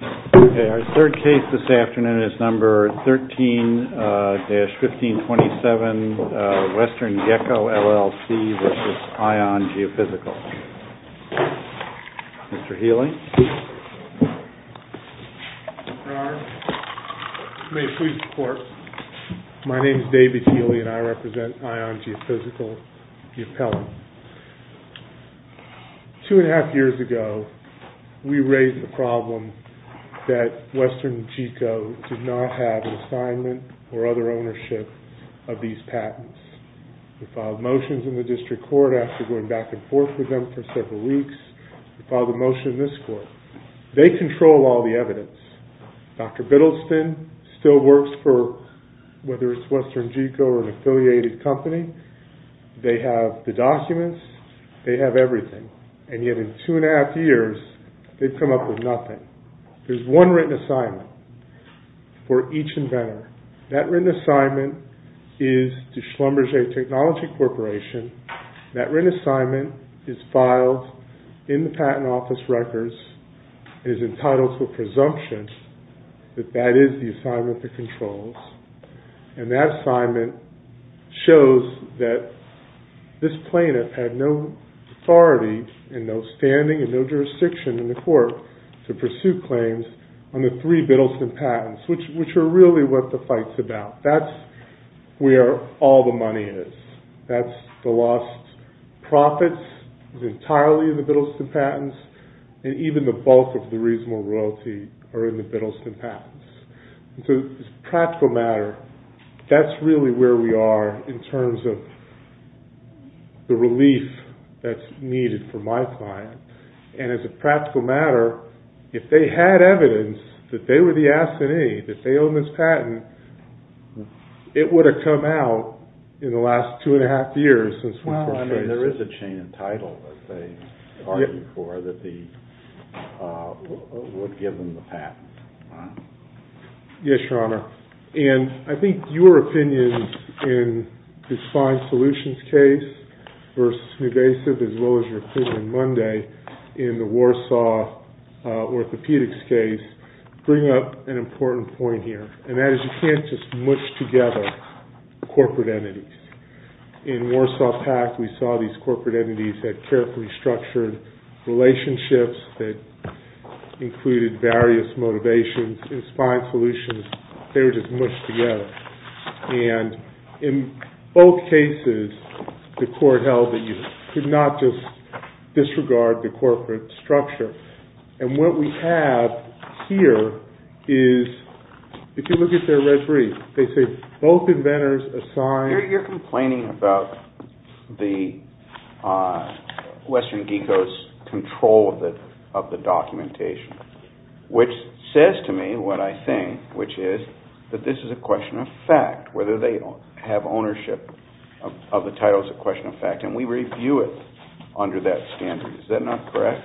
Our third case this afternoon is number 13-1527, WesternGeco L.L.C. v. ION Geophysical. Mr. Healy. Your Honor, you may please report. My name is David Healy and I represent ION Geophysical Geopelic. Two and a half years ago, we raised the problem that WesternGeco did not have an assignment or other ownership of these patents. We filed motions in the district court after going back and forth with them for several weeks. We filed a motion in this court. They control all the evidence. Dr. Biddleston still works for, whether it's WesternGeco or an affiliated company. They have the documents. They have everything. And yet in two and a half years, they've come up with nothing. There's one written assignment for each inventor. That written assignment is to Schlumberger Technology Corporation. That written assignment is filed in the patent office records. It is entitled to a presumption that that is the assignment that controls. And that assignment shows that this plaintiff had no authority and no standing and no jurisdiction in the court to pursue claims on the three Biddleston patents, which are really what the fight's about. That's where all the money is. That's the lost profits. It's entirely in the Biddleston patents. And even the bulk of the reasonable royalty are in the Biddleston patents. So as a practical matter, that's really where we are in terms of the relief that's needed for my client. And as a practical matter, if they had evidence that they were the assignee, that they own this patent, it would have come out in the last two and a half years since we first raised it. Well, I mean, there is a chain of title that they argued for that would give them the patent. Yes, Your Honor. And I think your opinion in this fine solutions case versus Newvasive, as well as your opinion Monday, in the Warsaw orthopedics case, bring up an important point here. And that is you can't just mush together corporate entities. In Warsaw Pact, we saw these corporate entities that carefully structured relationships that included various motivations in fine solutions. They were just mushed together. And in both cases, the court held that you could not just disregard the corporate structure. And what we have here is, if you look at their red brief, they say both inventors assigned... of the documentation, which says to me what I think, which is that this is a question of fact. Whether they have ownership of the title is a question of fact. And we review it under that standard. Is that not correct?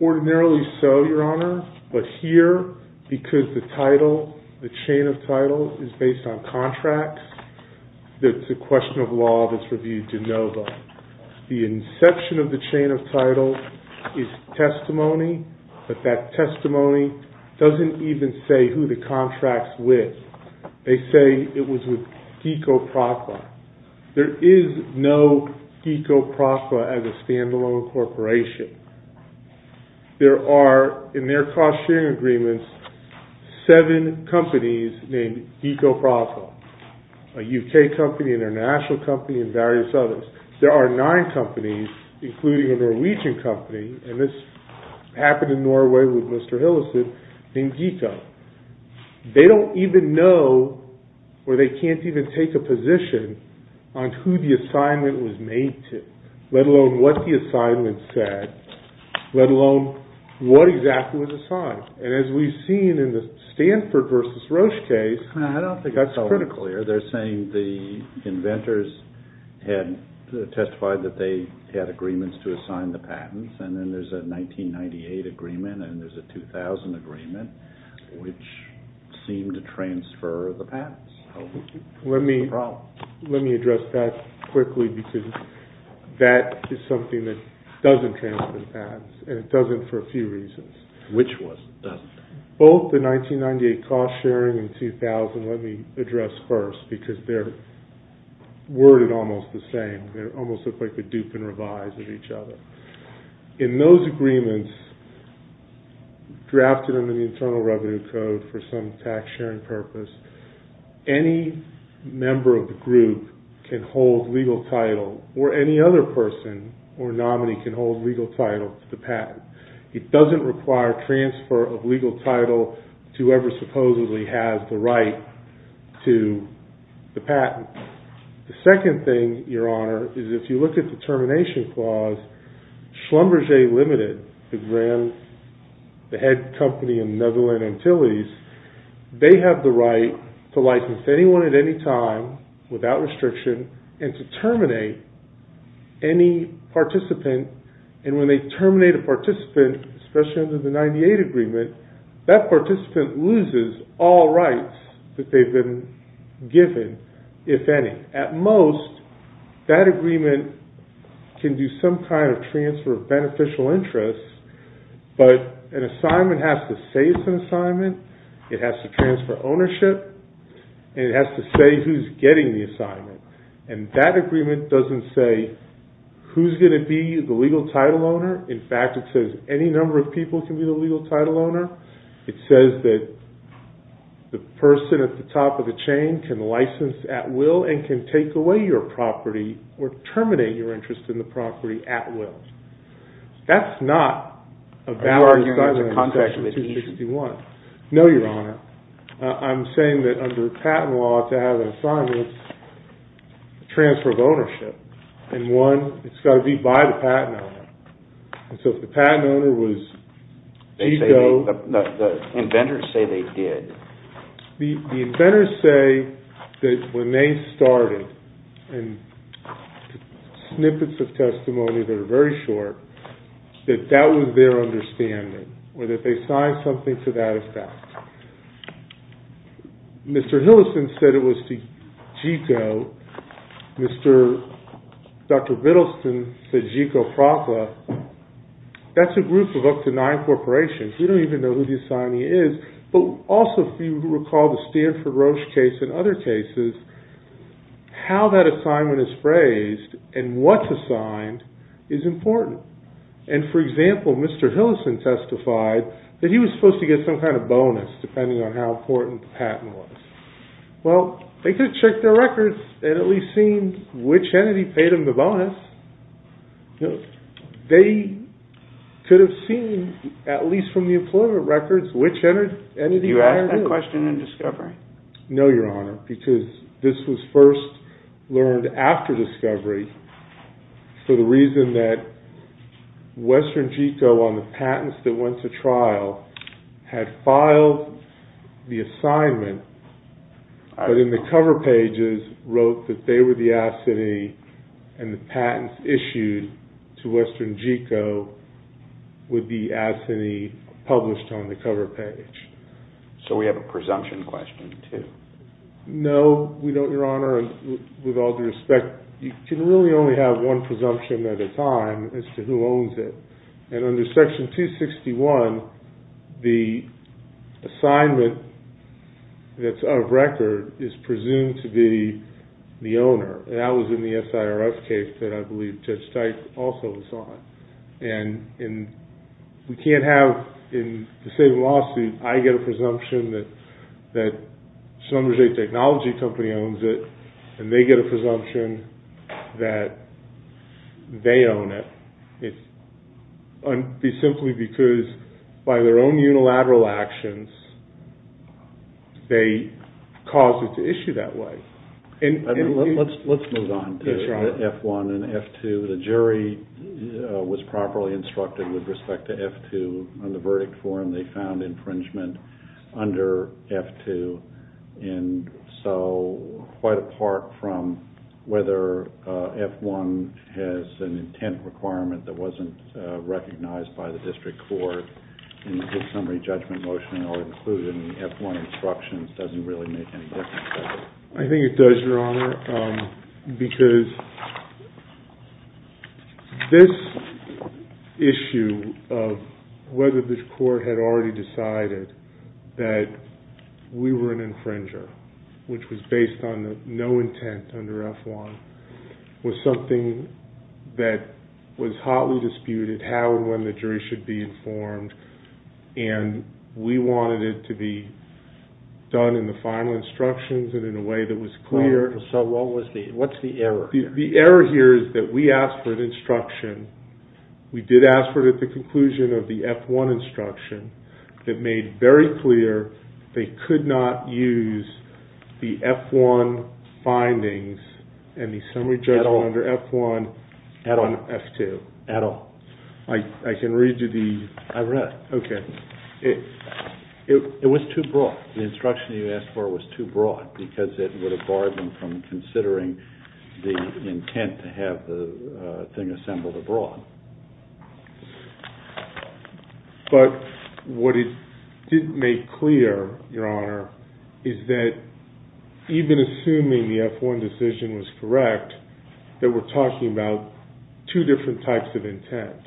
Ordinarily so, Your Honor. But here, because the title, the chain of title is based on contracts, it's a question of law that's reviewed de novo. The inception of the chain of title is testimony. But that testimony doesn't even say who the contract's with. They say it was with GECO-PRACLA. There is no GECO-PRACLA as a standalone corporation. There are, in their cost-sharing agreements, seven companies named GECO-PRACLA. A UK company, an international company, and various others. There are nine companies, including a Norwegian company, and this happened in Norway with Mr. Hillison, named GECO. They don't even know, or they can't even take a position on who the assignment was made to, let alone what the assignment said, let alone what exactly was assigned. And as we've seen in the Stanford v. Roche case, that's critical here. They're saying the inventors had testified that they had agreements to assign the patents, and then there's a 1998 agreement, and there's a 2000 agreement, which seemed to transfer the patents. Let me address that quickly, because that is something that doesn't transfer the patents, and it doesn't for a few reasons. Which ones? Both the 1998 cost-sharing and 2000, let me address first, because they're worded almost the same. They almost look like a dupe and revise of each other. In those agreements, drafted under the Internal Revenue Code for some tax-sharing purpose, any member of the group can hold legal title, or any other person or nominee can hold legal title to the patent. It doesn't require transfer of legal title to whoever supposedly has the right to the patent. The second thing, Your Honor, is if you look at the termination clause, Schlumberger Limited, the head company in the Netherlands, they have the right to license anyone at any time, without restriction, and to terminate any participant. And when they terminate a participant, especially under the 1998 agreement, that participant loses all rights that they've been given, if any. At most, that agreement can do some kind of transfer of beneficial interest, but an assignment has to say it's an assignment, it has to transfer ownership, and it has to say who's getting the assignment. And that agreement doesn't say who's going to be the legal title owner. In fact, it says any number of people can be the legal title owner. It says that the person at the top of the chain can license at will and can take away your property or terminate your interest in the property at will. That's not a valid assignment in Section 261. No, Your Honor. I'm saying that under patent law, to have an assignment, it's a transfer of ownership. And one, it's got to be by the patent owner. And so if the patent owner was... The inventors say they did. The inventors say that when they started, and snippets of testimony that are very short, that that was their understanding, or that they signed something to that effect. Mr. Hillison said it was the GICO. Dr. Biddleston said GICO-PRACLA. That's a group of up to nine corporations. We don't even know who the assignee is. But also, if you recall the Stanford Roche case and other cases, how that assignment is phrased and what's assigned is important. And for example, Mr. Hillison testified that he was supposed to get some kind of bonus depending on how important the patent was. Well, they could have checked their records and at least seen which entity paid them the bonus. They could have seen, at least from the employment records, which entity hired who. Did you ask that question in discovery? No, Your Honor, because this was first learned after discovery for the reason that Western GICO, on the patents that went to trial, had filed the assignment, but in the cover pages, wrote that they were the assignee and the patents issued to Western GICO would be the assignee published on the cover page. So we have a presumption question, too. No, we don't, Your Honor. Your Honor, with all due respect, you can really only have one presumption at a time as to who owns it. And under Section 261, the assignment that's out of record is presumed to be the owner. That was in the SIRS case that I believe Judge Tite also was on. And we can't have, in the same lawsuit, I get a presumption that and they get a presumption that they own it. It's simply because by their own unilateral actions, they caused it to issue that way. Let's move on to F1 and F2. The jury was properly instructed with respect to F2 on the verdict form they found infringement under F2. And so quite apart from whether F1 has an intent requirement that wasn't recognized by the district court in the summary judgment motion or included in the F1 instructions doesn't really make any difference. I think it does, Your Honor, because this issue of whether this court had already decided that we were an infringer, which was based on no intent under F1, was something that was hotly disputed how and when the jury should be informed. And we wanted it to be done in the final instructions and in a way that was clear. So what's the error here? The error here is that we asked for an instruction. We did ask for it at the conclusion of the F1 instruction that made very clear they could not use the F1 findings in the summary judgment under F1 on F2. At all. I can read you the... I read it. It was too broad. The instruction you asked for was too broad because it would have barred them from considering the intent to have the thing assembled abroad. But what it didn't make clear, Your Honor, is that even assuming the F1 decision was correct, that we're talking about two different types of intent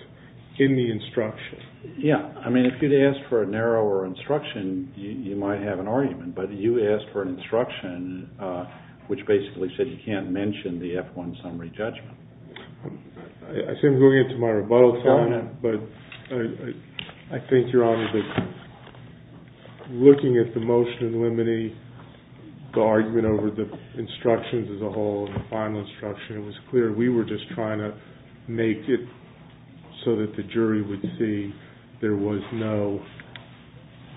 in the instruction. Yeah. I mean, if you'd asked for a narrower instruction, you might have an argument. But you asked for an instruction which basically said you can't mention the F1 summary judgment. I see I'm going into my rebuttal time, but I think, Your Honor, that looking at the motion in limine the argument over the instructions as a whole and the final instruction, it was clear we were just trying to make it so that the jury would see there was no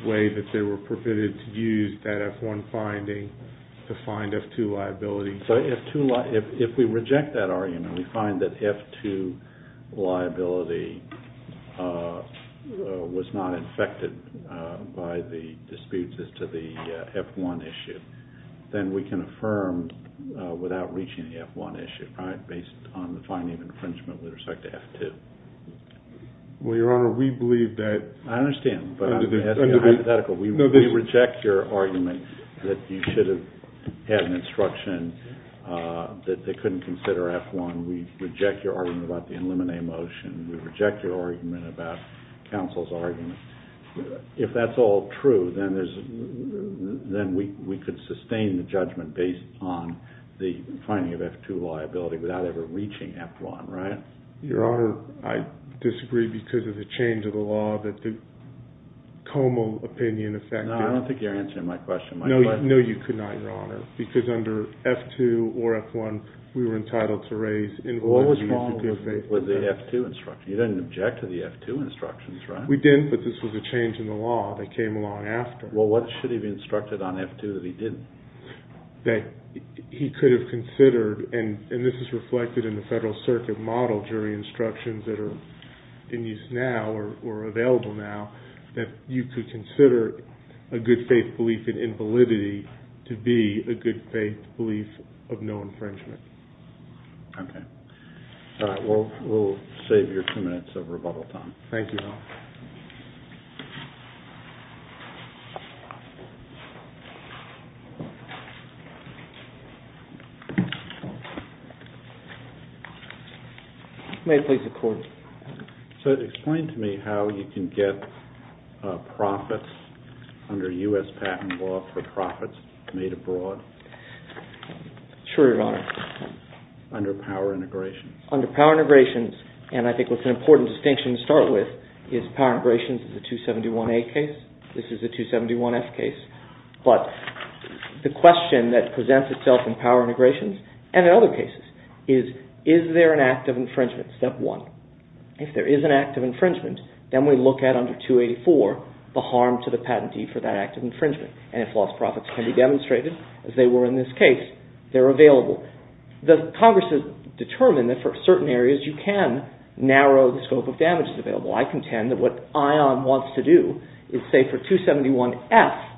way that they were permitted to use that F1 finding to find F2 liability. So if we reject that argument, we find that F2 liability was not infected by the disputes as to the F1 issue, then we can affirm without reaching the F1 issue, based on the finding of infringement with respect to F2. Well, Your Honor, we believe that... I understand, but that's hypothetical. We reject your argument that you should have had an instruction that they couldn't consider F1. We reject your argument about the limine motion. We reject your argument about counsel's argument. If that's all true, then we could sustain the judgment based on the finding of F2 liability without ever reaching F1, right? Your Honor, I disagree because of the change of the law that the Como opinion affected... No, I don't think you're answering my question. No, you could not, Your Honor, because under F2 or F1, we were entitled to raise... What was wrong with the F2 instruction? You didn't object to the F2 instructions, right? We didn't, but this was a change in the law that came along after. Well, what should have been instructed on F2 that he didn't? That he could have considered, and this is reflected in the Federal Circuit model during instructions that are in use now or available now, that you could consider a good faith belief in invalidity to be a good faith belief of no infringement. Okay. All right, we'll save your two minutes of rebuttal time. Thank you, Your Honor. May I please have the court's... So explain to me how you can get profits under U.S. patent law for profits made abroad? Sure, Your Honor. Under power integrations? Under power integrations, and I think what's an important distinction to start with is power integrations is a 271A case. This is a 271F case. But the question that presents itself in power integrations and in other cases is, is there an act of infringement? Step one. If there is an act of infringement, then we look at under 284 the harm to the patentee for that act of infringement, and it can be demonstrated, as they were in this case, they're available. The Congress has determined that for certain areas you can narrow the scope of damages available. I contend that what ION wants to do is say for 271F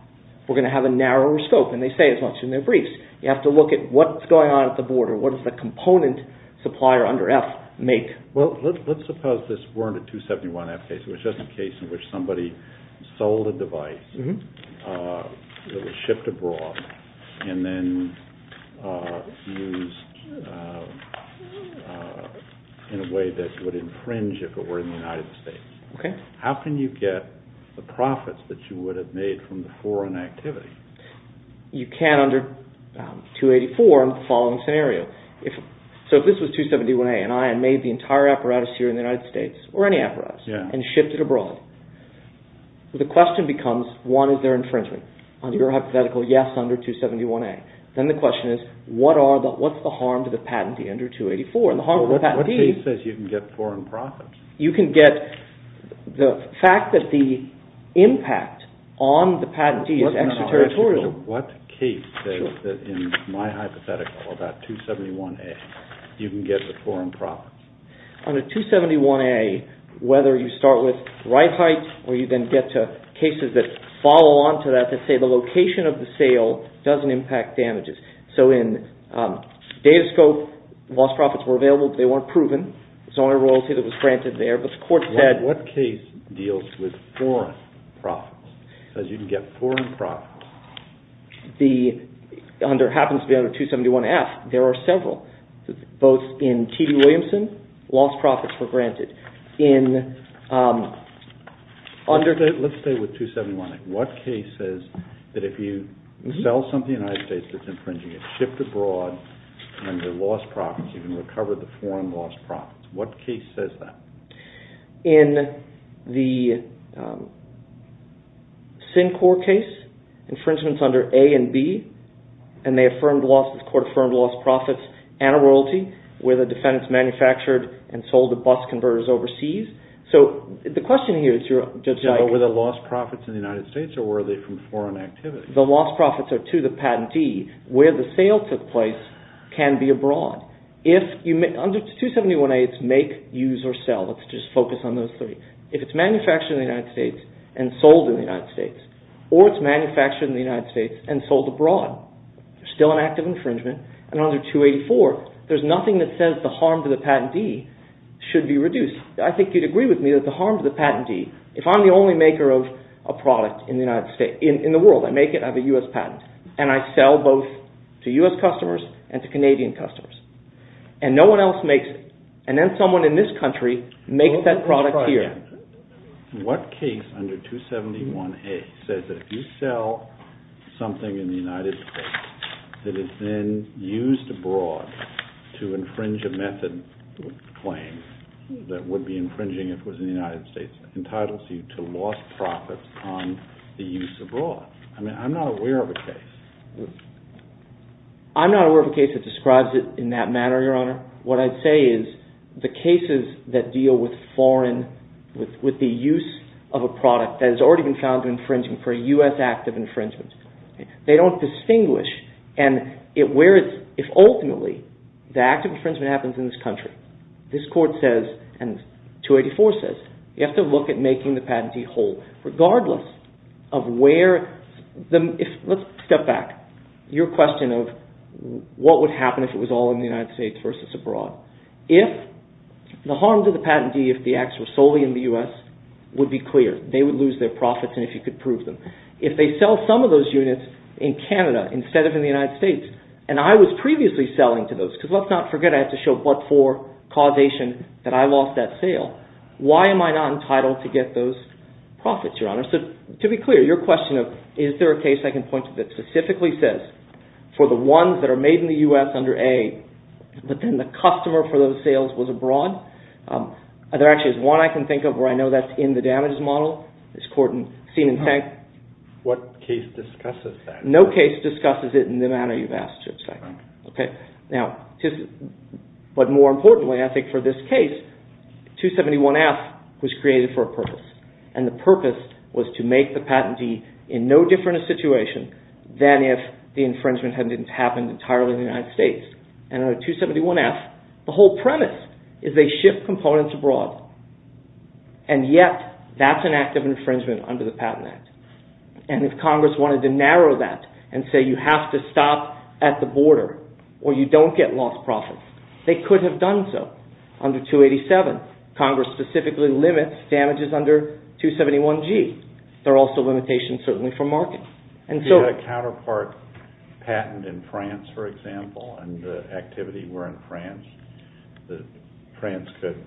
we're going to have a narrower scope, and they say as much in their briefs. You have to look at what's going on at the border. What does the component supplier under F make? Well, let's suppose this weren't a 271F case. It was just a case in which somebody sold a device that was shipped abroad and then used in a way that would infringe if it were in the United States. How can you get the profits that you would have made from the foreign activity? You can under 284 in the following scenario. So if this was 271A and I had made the entire apparatus here in the United States, or any apparatus, and shipped it abroad, the question becomes one, is there infringement? On your hypothetical, yes, under 271A. Then the question is what's the harm to the patentee under 284? What case says you can get foreign profits? You can get the fact that the impact on the patentee is extraterritorial. What case says that in my hypothetical about 271A you can get the foreign profits? On a 271A, whether you start with the sale of the kite or you then get to cases that follow on to that that say the location of the sale doesn't impact damages. So in Datascope, lost profits were available but they weren't proven. It's the only royalty that was granted there. What case deals with foreign profits? It says you can get foreign profits. It happens to be under 271F. There are several. Both in T.D. Williamson, lost profits were granted. Let's stay with 271A. What case says that if you sell something to the United States that's infringing it's shipped abroad and they're lost profits. You can recover the foreign lost profits. What case says that? In the SINCOR case, infringements under A and B and the court affirmed lost profits and a royalty where the defendants manufactured and sold the bus converters overseas. Were the lost profits in the United States or were they from foreign activity? The lost profits are to the patentee where the sale took place can be abroad. Under 271A, it's make, use or sell. Let's just focus on those three. If it's manufactured in the United States and sold in the United States or it's manufactured in the United States and sold abroad, still an act of infringement. Under 284, there's nothing that says if I'm the only maker of a product in the world, I make it, I have a U.S. patent and I sell both to U.S. customers and to Canadian customers and no one else makes it and then someone in this country makes that product here. What case under 271A says that if you sell something in the United States that is then used abroad to infringe a method claim that would be infringing due to lost profits on the use abroad. I mean, I'm not aware of a case. I'm not aware of a case that describes it in that manner, Your Honor. What I'd say is the cases that deal with foreign with the use of a product that has already been found to be infringing for a U.S. act of infringement, they don't distinguish and where it's, if ultimately the act of infringement happens in this country, this Court says and 284 says, you have to look at making the patentee whole regardless of where let's step back. Your question of what would happen if it was all in the United States versus abroad. If the harm to the patentee if the acts were solely in the U.S. would be clear. They would lose their profits and if you could prove them. If they sell some of those units in Canada instead of in the United States and I was previously selling to those because let's not forget I have to show but for causation that I lost that sale. Why am I not entitled to get those profits, Your Honor? So to be clear, your question of is there a case I can point to that specifically says for the ones that are made in the U.S. under A but then the customer for those sales was abroad. There actually is one I can think of where I know that's in the damages model. This Court in Seen and Thank. What case discusses that? No case discusses it in the manner you've asked, Your Honor. Okay. Now, but more importantly I think for this case 271F was created for a purpose and the purpose was to make the patentee in no different situation than if the infringement hadn't happened entirely in the United States and under 271F the whole premise is they ship components abroad and yet that's an act of infringement under the Patent Act and if Congress wanted to narrow that and say you have to stop at the border or you don't get lost profits they could have done so under 287. Congress specifically limits damages under 271G. There are also limitations certainly for markets and so You had a counterpart patent in France for example and the activity were in France that France could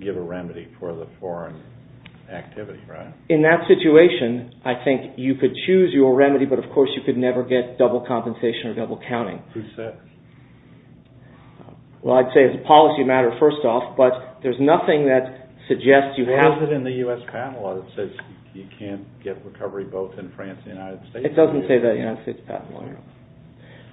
give a remedy for the foreign activity, right? In that situation I think you could choose your remedy but of course you could never get double compensation or double accounting. Who says? Well, I'd say it's a policy matter first off but there's nothing that suggests you have to What is it in the US patent law that says you can't get recovery both in France and the United States? It doesn't say that in the United States patent law.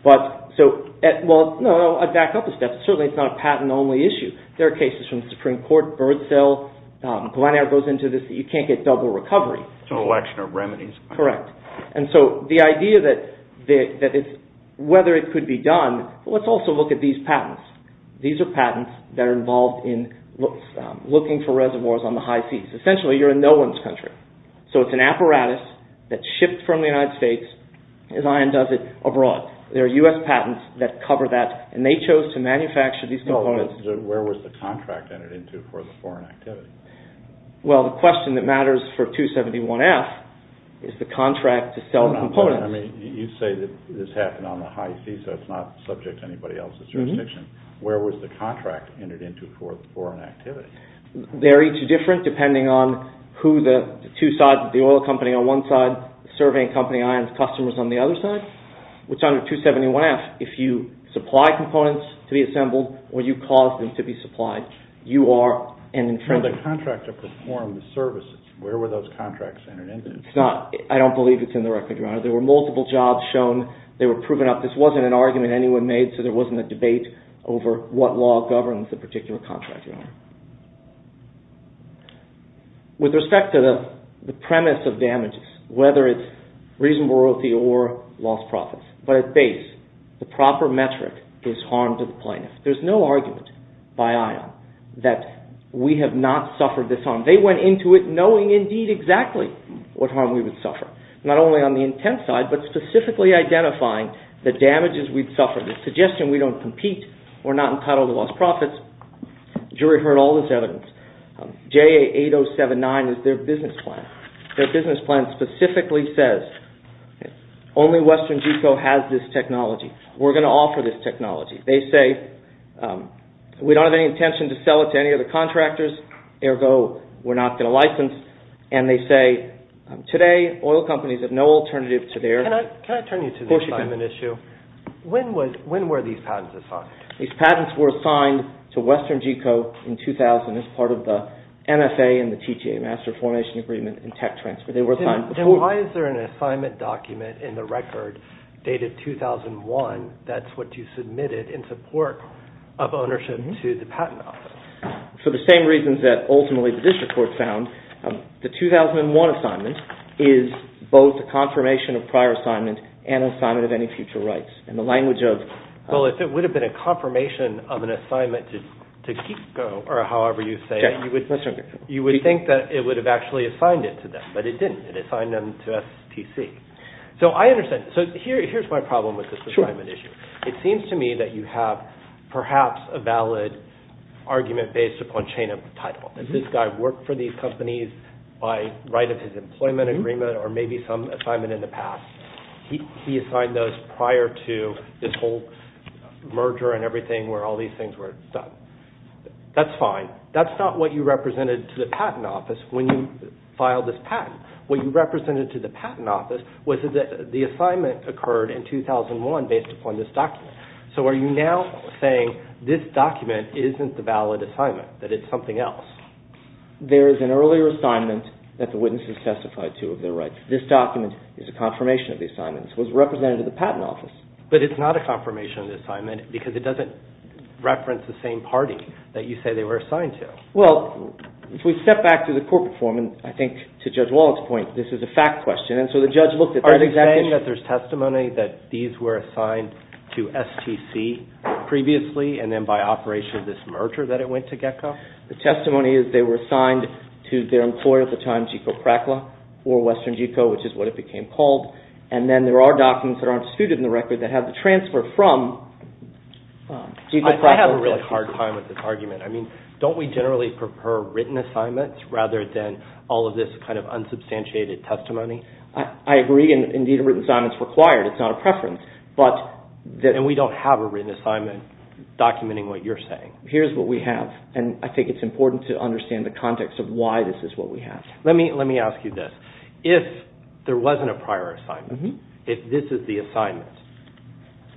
But so well, no I'd back up a step certainly it's not a patent only issue. There are cases from the Supreme Court Birdsell Glenair goes into this that you can't get double recovery. It's an election of remedies. Correct. And so the idea that it's whether it could be done let's also look at these patents. These are patents that are involved in looking for reservoirs on the high seas. Essentially you're in no one's country. So it's an apparatus that's shipped from the United States and does it abroad. There are US patents that cover that and they chose to manufacture these components Where was the contract entered into for the foreign activity? Well, the question that matters for 271F is the contract to sell components. You say that this happened on the high seas so it's not subject to anybody else's jurisdiction. Where was the contract entered into for an activity? They're each different depending on who the two sides the oil company on one side serving company and customers on the other side. Which under 271F if you supply components to be assembled or you cause them to be supplied you are an infringer. Well the contract to perform the services where were those contracts entered into? It's not I don't believe it's in the record, Your Honor. There were multiple jobs shown they were proven up. This wasn't an argument anyone made so there wasn't a debate over what law governs the particular contract, Your Honor. With respect to the premise of damages whether it's reasonable royalty or lost profits but at base the proper metric is harmed to the plaintiff. There's no argument by IOM that we have not suffered this harm. They went into it knowing indeed exactly what harm we would suffer. Not only on the intent side but specifically identifying the damages we've suffered. The suggestion we don't compete we're not entitled to lost profits. The jury heard all this evidence. JA8079 is their business plan. Their business plan specifically says only Western Geco has this technology. We're going to offer this technology. They say we don't have any intention to sell it to any other contractors ergo we're not going to license and they say today oil companies have no alternative to their Can I turn you to the assignment issue? When were these patents assigned? These patents were assigned to Western Geco in 2000 as part of the NSA and the TTA master formation agreement and tech transfer. They were assigned before. Why is there an assignment document in the record dated 2001 that's what you submitted in support of ownership office? For the same reasons that ultimately the district court found. The 2001 assignment is both a confirmation of prior assignment and an assignment of any future rights. If it would have been a confirmation of an assignment to Geco or however you say it you would think that it would have actually assigned it to them but it didn't. Here's my problem with this assignment issue. It seems to me that you have perhaps a valid argument based upon chain of title. This guy worked for these companies by right of employment agreement or assignment in the past. He assigned those prior to this whole merger and everything where all these things were done. That's fine. That's not what you represented to the patent office when you this is a valid assignment. That it's something else. There is an earlier assignment that the witness has testified to of their This document is a confirmation of the assignment. It was represented to the patent office. But it's not a confirmation of the assignment because it doesn't reference the same party that you say they were assigned to. If we step back to the corporate form, this is a fact question. Are you saying that there's testimony that these were assigned to STC previously and then by operation of this merger that it went to GECCO? The testimony is they were assigned to their employer at the time, GECCO or Western GECCO, which is what it became called. And then there are documents that aren't suited in the record that have the transfer from GECCO. I have a hard time with this argument. Don't we generally prefer written assignment rather than substantiated testimony? I agree. Indeed, a written assignment is required. It's not a preference. And we don't have a written assignment documenting what you're saying. Here's what we have. And I think it's important to understand the context of why this is what we have. Let me ask you this. If there wasn't a prior assignment, if this is the assignment,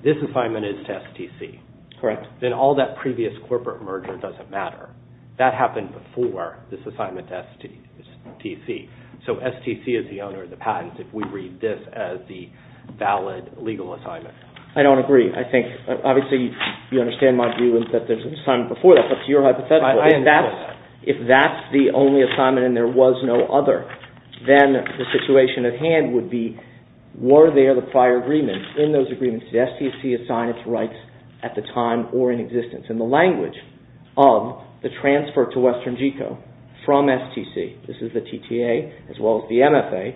this assignment is to STC, then all that previous corporate merger doesn't matter. That happened before this assignment to STC. So STC is the owner of the patent if we read this as the valid legal assignment. I don't agree. I think obviously you understand my view that there's an assignment before that, but it's your hypothetical. If that's the only assignment and there was no other, then the situation at hand would be were there the prior agreements in those agreements, did STC assign its rights at the time or in existence? And the language of the transfer to Western GECO from STC, this is the TTA as well as the MFA,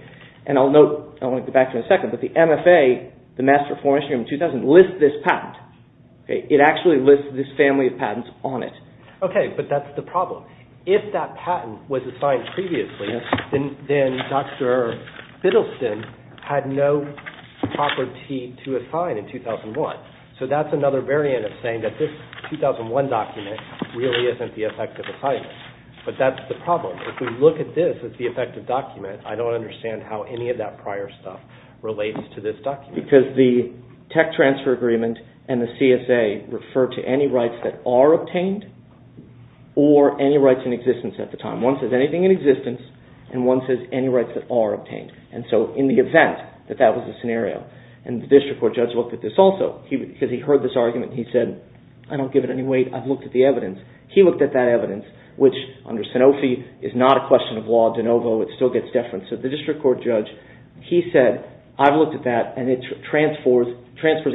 and I'll note, I'll go back to it in a second, but the MFA, the Master Reform Instrument 2000, lists this patent. It actually lists this family of patents on it. Okay, but that's the problem. If that patent was assigned previously, then Dr. Biddleston had no property to assign in 2001. So that's another variant of saying that this 2001 document really isn't the effective assignment, but that's the problem. If we look at this as the effective document, I don't understand how any of that prior stuff relates to this document. Because the tech transfer agreement and the CSA refer to any rights that are obtained, or any rights in existence at the time. One says anything in existence, and one says any rights that are obtained. And so in the event that that was the scenario, and the district court judge, he said, I've looked at that, and it transfers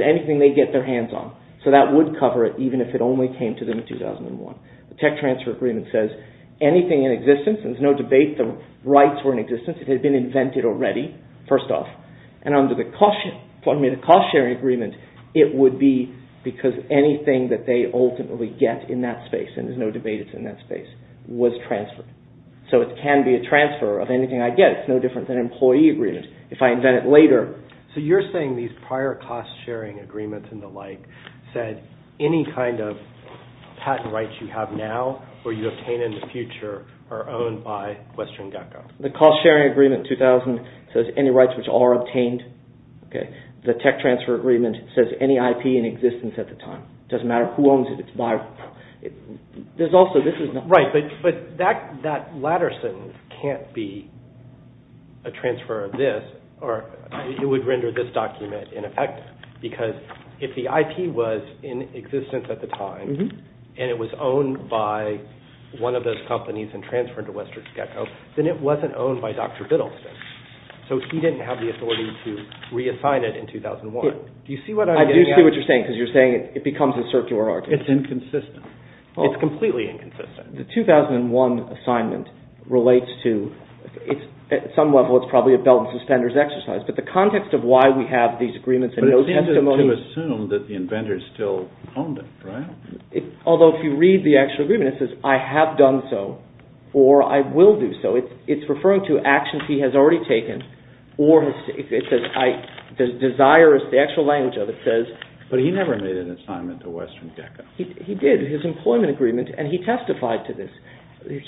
anything they get their hands on. So that would cover it, even if it only came to them in 2001. The tech transfer agreement says anything in existence, and there's no debate the rights were in existence, it had been invented already, first off. And under the cost-sharing agreement, it would be because anything that they ultimately get in that space, and there's no debate it's in that space, was transferred. So it can be a transfer of anything I get. It's no different than an employee agreement. If I invent it later... So you're saying these cost-sharing agreement 2000 says any rights which are obtained, the tech transfer agreement says any IP in existence at the time. It doesn't matter who owns it, it's viable. Right, but that latter sentence can't be a transfer of this, or it would render this document ineffective, because if the IP was in existence at the time, and it was owned by one of those companies, then it wasn't owned by Dr. Biddleston. So he didn't have the authority to reassign it in 2001. I do see what you're saying, because it becomes a circular argument. It's inconsistent. It's completely inconsistent. The 2001 assignment relates to at some level it's probably a belt and suspenders exercise, but the context of why we have these agreements and those testimonies Although if you read the actual agreement it says, I have done so, or I will do so. It's referring to actions he has already taken, or the desire, the actual language of it says But he never made an assignment to Western Gecko. He did, his employment agreement, and he testified to this.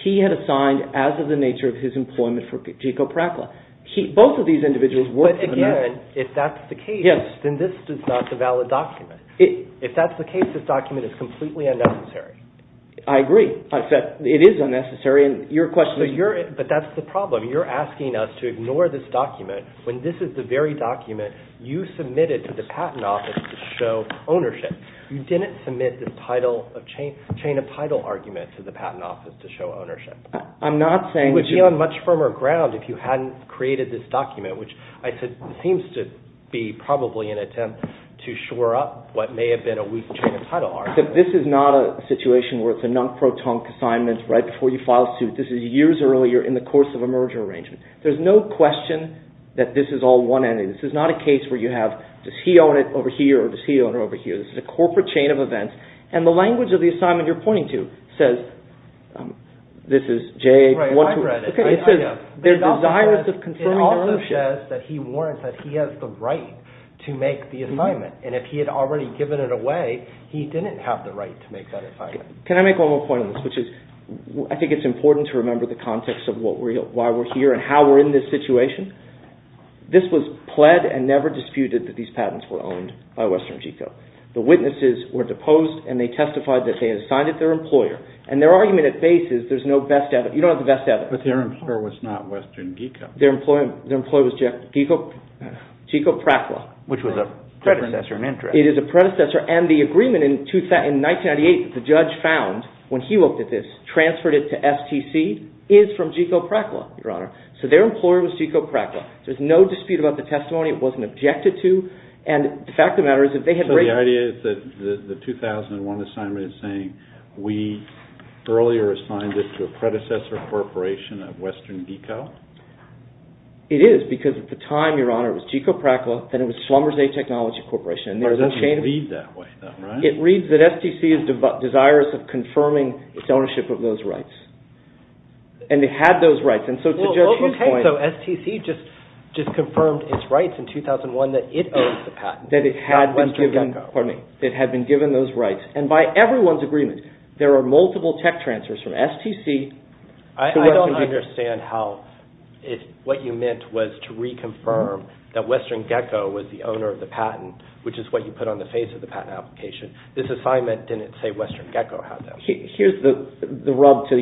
He had assigned as of the nature of his employment for G. Co. Prackla. Both of these are telling us to ignore this document when this is the very document you submitted to the patent office to show ownership. You didn't submit the chain of title argument to the patent office to show ownership. It would be on much firmer ground if you hadn't created this document, which I don't know how to describe it. This is not a situation where it's a non pro tonk assignment. This is years earlier in the course of a merger arrangement. There's no question that this is all one-ended. This is not a case where you have he or she owns it over here or he owns it over here. This is a corporate chain of events. The language of the assignment you're pointing to says this is J... It also says that he has the right to make the assignment. If he had already given it away, he didn't have the right to make that assignment. Can I make one more point on this? I think it's important to remember the context of why we're here and how we're in this situation. This was pled and never disputed that these patents were owned by Western GECO. The witnesses were deposed and they testified that they had signed it to their employer. And their argument at base is there's no best evidence. You don't have the best evidence. But their employer was not Western GECO. Their employer was GECO PRACLA. Which was a predecessor in interest. It is a predecessor. And the agreement in 1998 that the judge found when he looked at this, transferred it to STC, is from GECO PRACLA, Your Honor. So their employer was GECO PRACLA. There's no dispute about the testimony. It wasn't objected to. And the fact of the matter is that they had raised it. So the idea is that the judge had the desires of confirming its ownership of those rights. And it had those rights. So STC just confirmed its rights in 2001 that it owned the patent. It had been given those rights. And by everyone's agreement, there are multiple tech transfers from STC. I don't understand how what you meant was to reconfirm that Western GECO was the owner of the patent, which is what you put on the face of the patent application. This assignment didn't say Western GECO had that right. Here's the facts,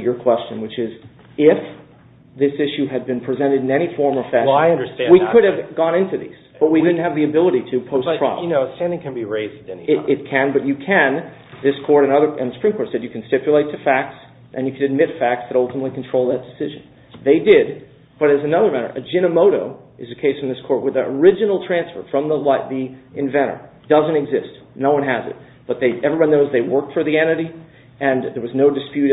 and you can admit facts that ultimately control that decision. They did. But as another matter, a Jinimoto is a case in this court where the original transfer from the inventor doesn't exist. No one has it. But everyone knows they worked for the entity and there was no dispute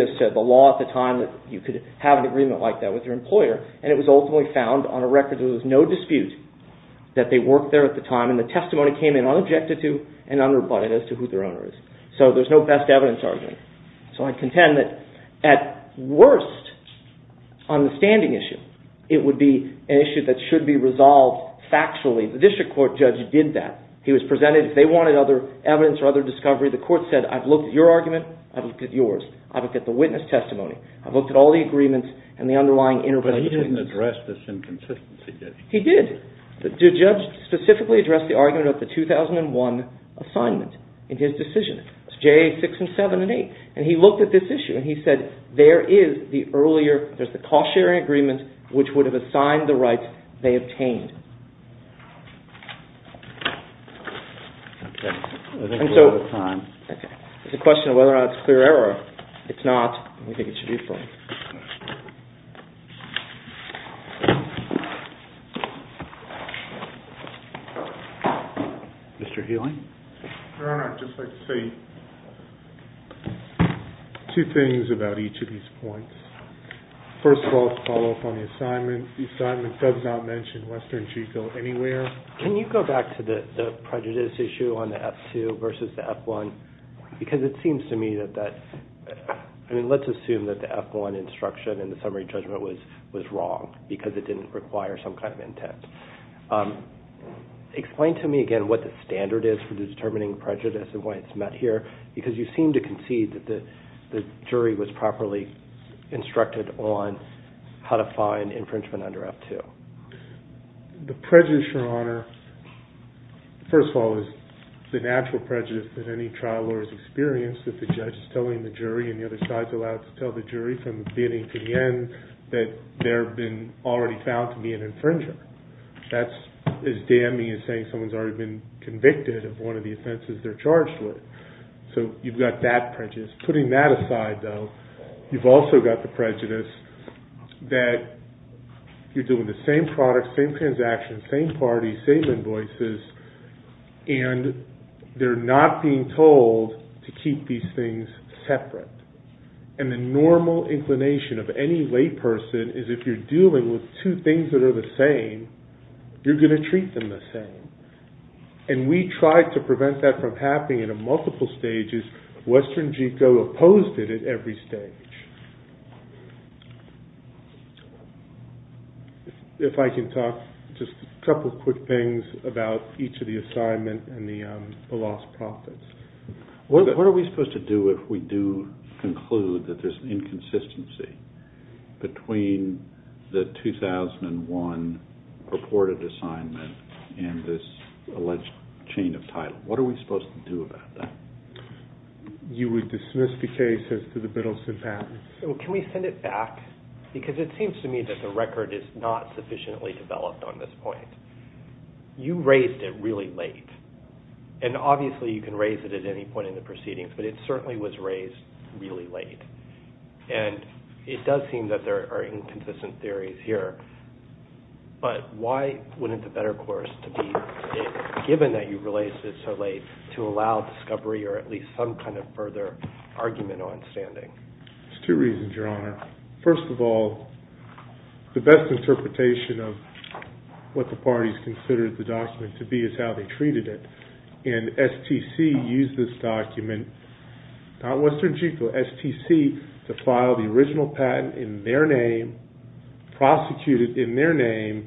that they worked there at the time and the testimony came in unobjected to and unrebutted as to who their owner is. So there's no best evidence argument. So I contend that at worst on the standing issue, it would be an issue that should be resolved factually. The district court judge did that. He was presented if they wanted other evidence or other discovery, the court said I've looked at your argument, I've looked at yours, I've looked at the witness testimony, I've looked at all the agreements and the underlying intervention. But he didn't address this in consistency. He did. The judge specifically addressed the argument of the 2001 assignment in his decision. It's J6 and 7 and 8. And he looked at this issue and he said there is the earlier cost-sharing agreement which would have assigned the rights they obtained. There's a question of whether or not it's clear error. It's not. We think it should be clear. Mr. Hewling? Your Honor, I'd just like to say two things about each of these points. First of all, to follow up on the assignment, the assignment does not mention Western Chico anywhere. Can you go back to the prejudice issue on the F2 versus the F1? Because it seems to me that that let's assume that the F1 instruction in the summary judgment was wrong because it didn't require some kind of intent. Explain to me again what the standard is for determining prejudice and why it's met here because you seem to concede that the jury was properly instructed on how to find infringement under F2. The prejudice, Your Honor, first of all, is the natural prejudice that any trial lawyer has experienced that the judge is telling the jury and the other side is allowed to tell the jury from beginning to end. So you've got that prejudice. Putting that aside, though, you've also got the prejudice that you're doing the same products, same transactions, same parties, same invoices, and they're not being told to keep these things separate. And the normal inclination of any lay person is if you're dealing with two things that are the same not telling the jury to keep separate, you're not telling the jury to keep these things separate, you're not telling the jury to keep separate. So you would dismiss the case as to the Biddleson patents. Can we send it back? Because it seems to me that the record is not sufficiently developed on this point. You raised it really late. And obviously you can raise it at any point in the proceedings but it certainly was raised really late. It does seem that there are inconsistent theories here but why wouldn't it be better given that you raised it so late to allow further argument on standing. There's two reasons your honor. First of all, the original patent in their name prosecuted in their name,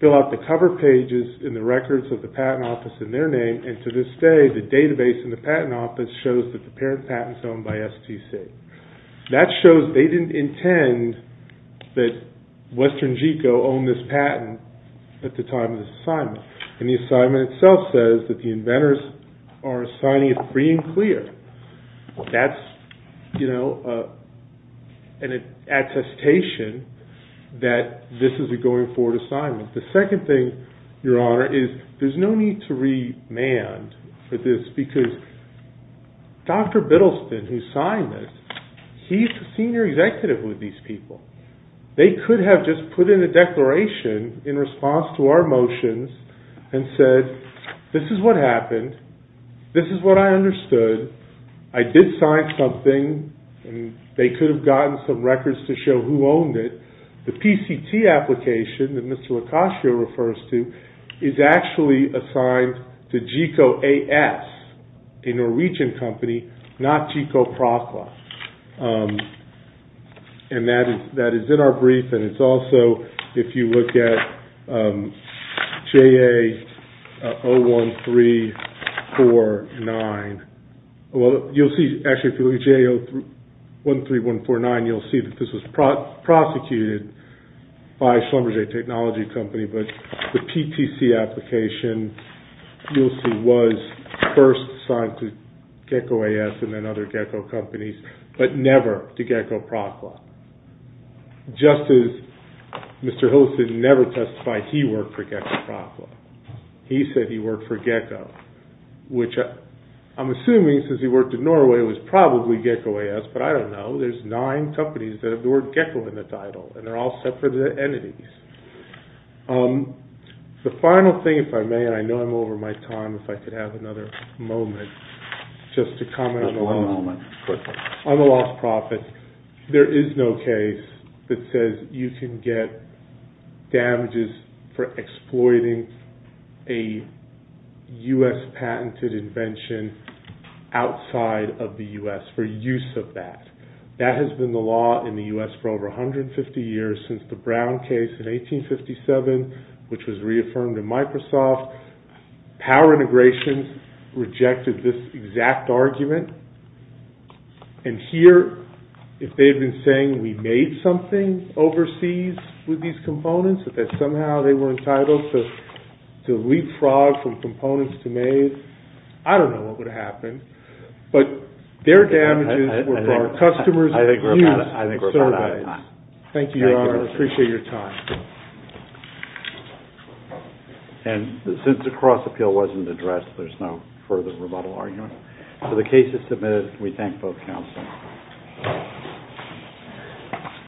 fill out the cover pages in the records of the patent office in their name and to this day the database in the patent office shows that the parent patent is owned by STC. That is an attestation that this is a going forward assignment. The second thing, your honor, is there's no need to remand for this because Dr. Biddleston who signed this, he's the senior executive with these people. They could have just put in a declaration in response to our motions and said this is what happened, this is what I understood, I did sign something and they could have gotten some records to show who owned it. The PCT application is actually assigned to GICO AS, a Norwegian company, not GICO PROCLA. And that is in our jurisdiction. If you look at JA 01349, you'll see, actually, if you look at 13149, you'll see this was prosecuted by Schlumberger technology company, but the PTC application was first assigned to GICO AS and other GICO companies, but never to GICO PROCLA. Just as Mr. Hillison never testified he worked for GICO PROCLA, he said he worked for GECCO, which I'm assuming, since he worked in Norway, it was probably GECCO AS, but I don't know, there's nine companies that have the word GECCO in the name of AS, but there's no case that says you can get damages for exploiting a U.S. patented invention outside of the U.S. for use of that. That has been the law in the U.S. for over 150 years since the Brown case in 1857, which was reaffirmed in Microsoft, power integration rejected this exact argument, and here, if they've been saying we made something overseas with these components, that somehow they were entitled to leapfrog from components to made, I don't know what would have happened, but their damages were for customers who were in the U.S. for years. Thank you. I appreciate your time. Since the cross-appeal wasn't addressed, there's no further rebuttal argument. The case is submitted. We thank both counsel.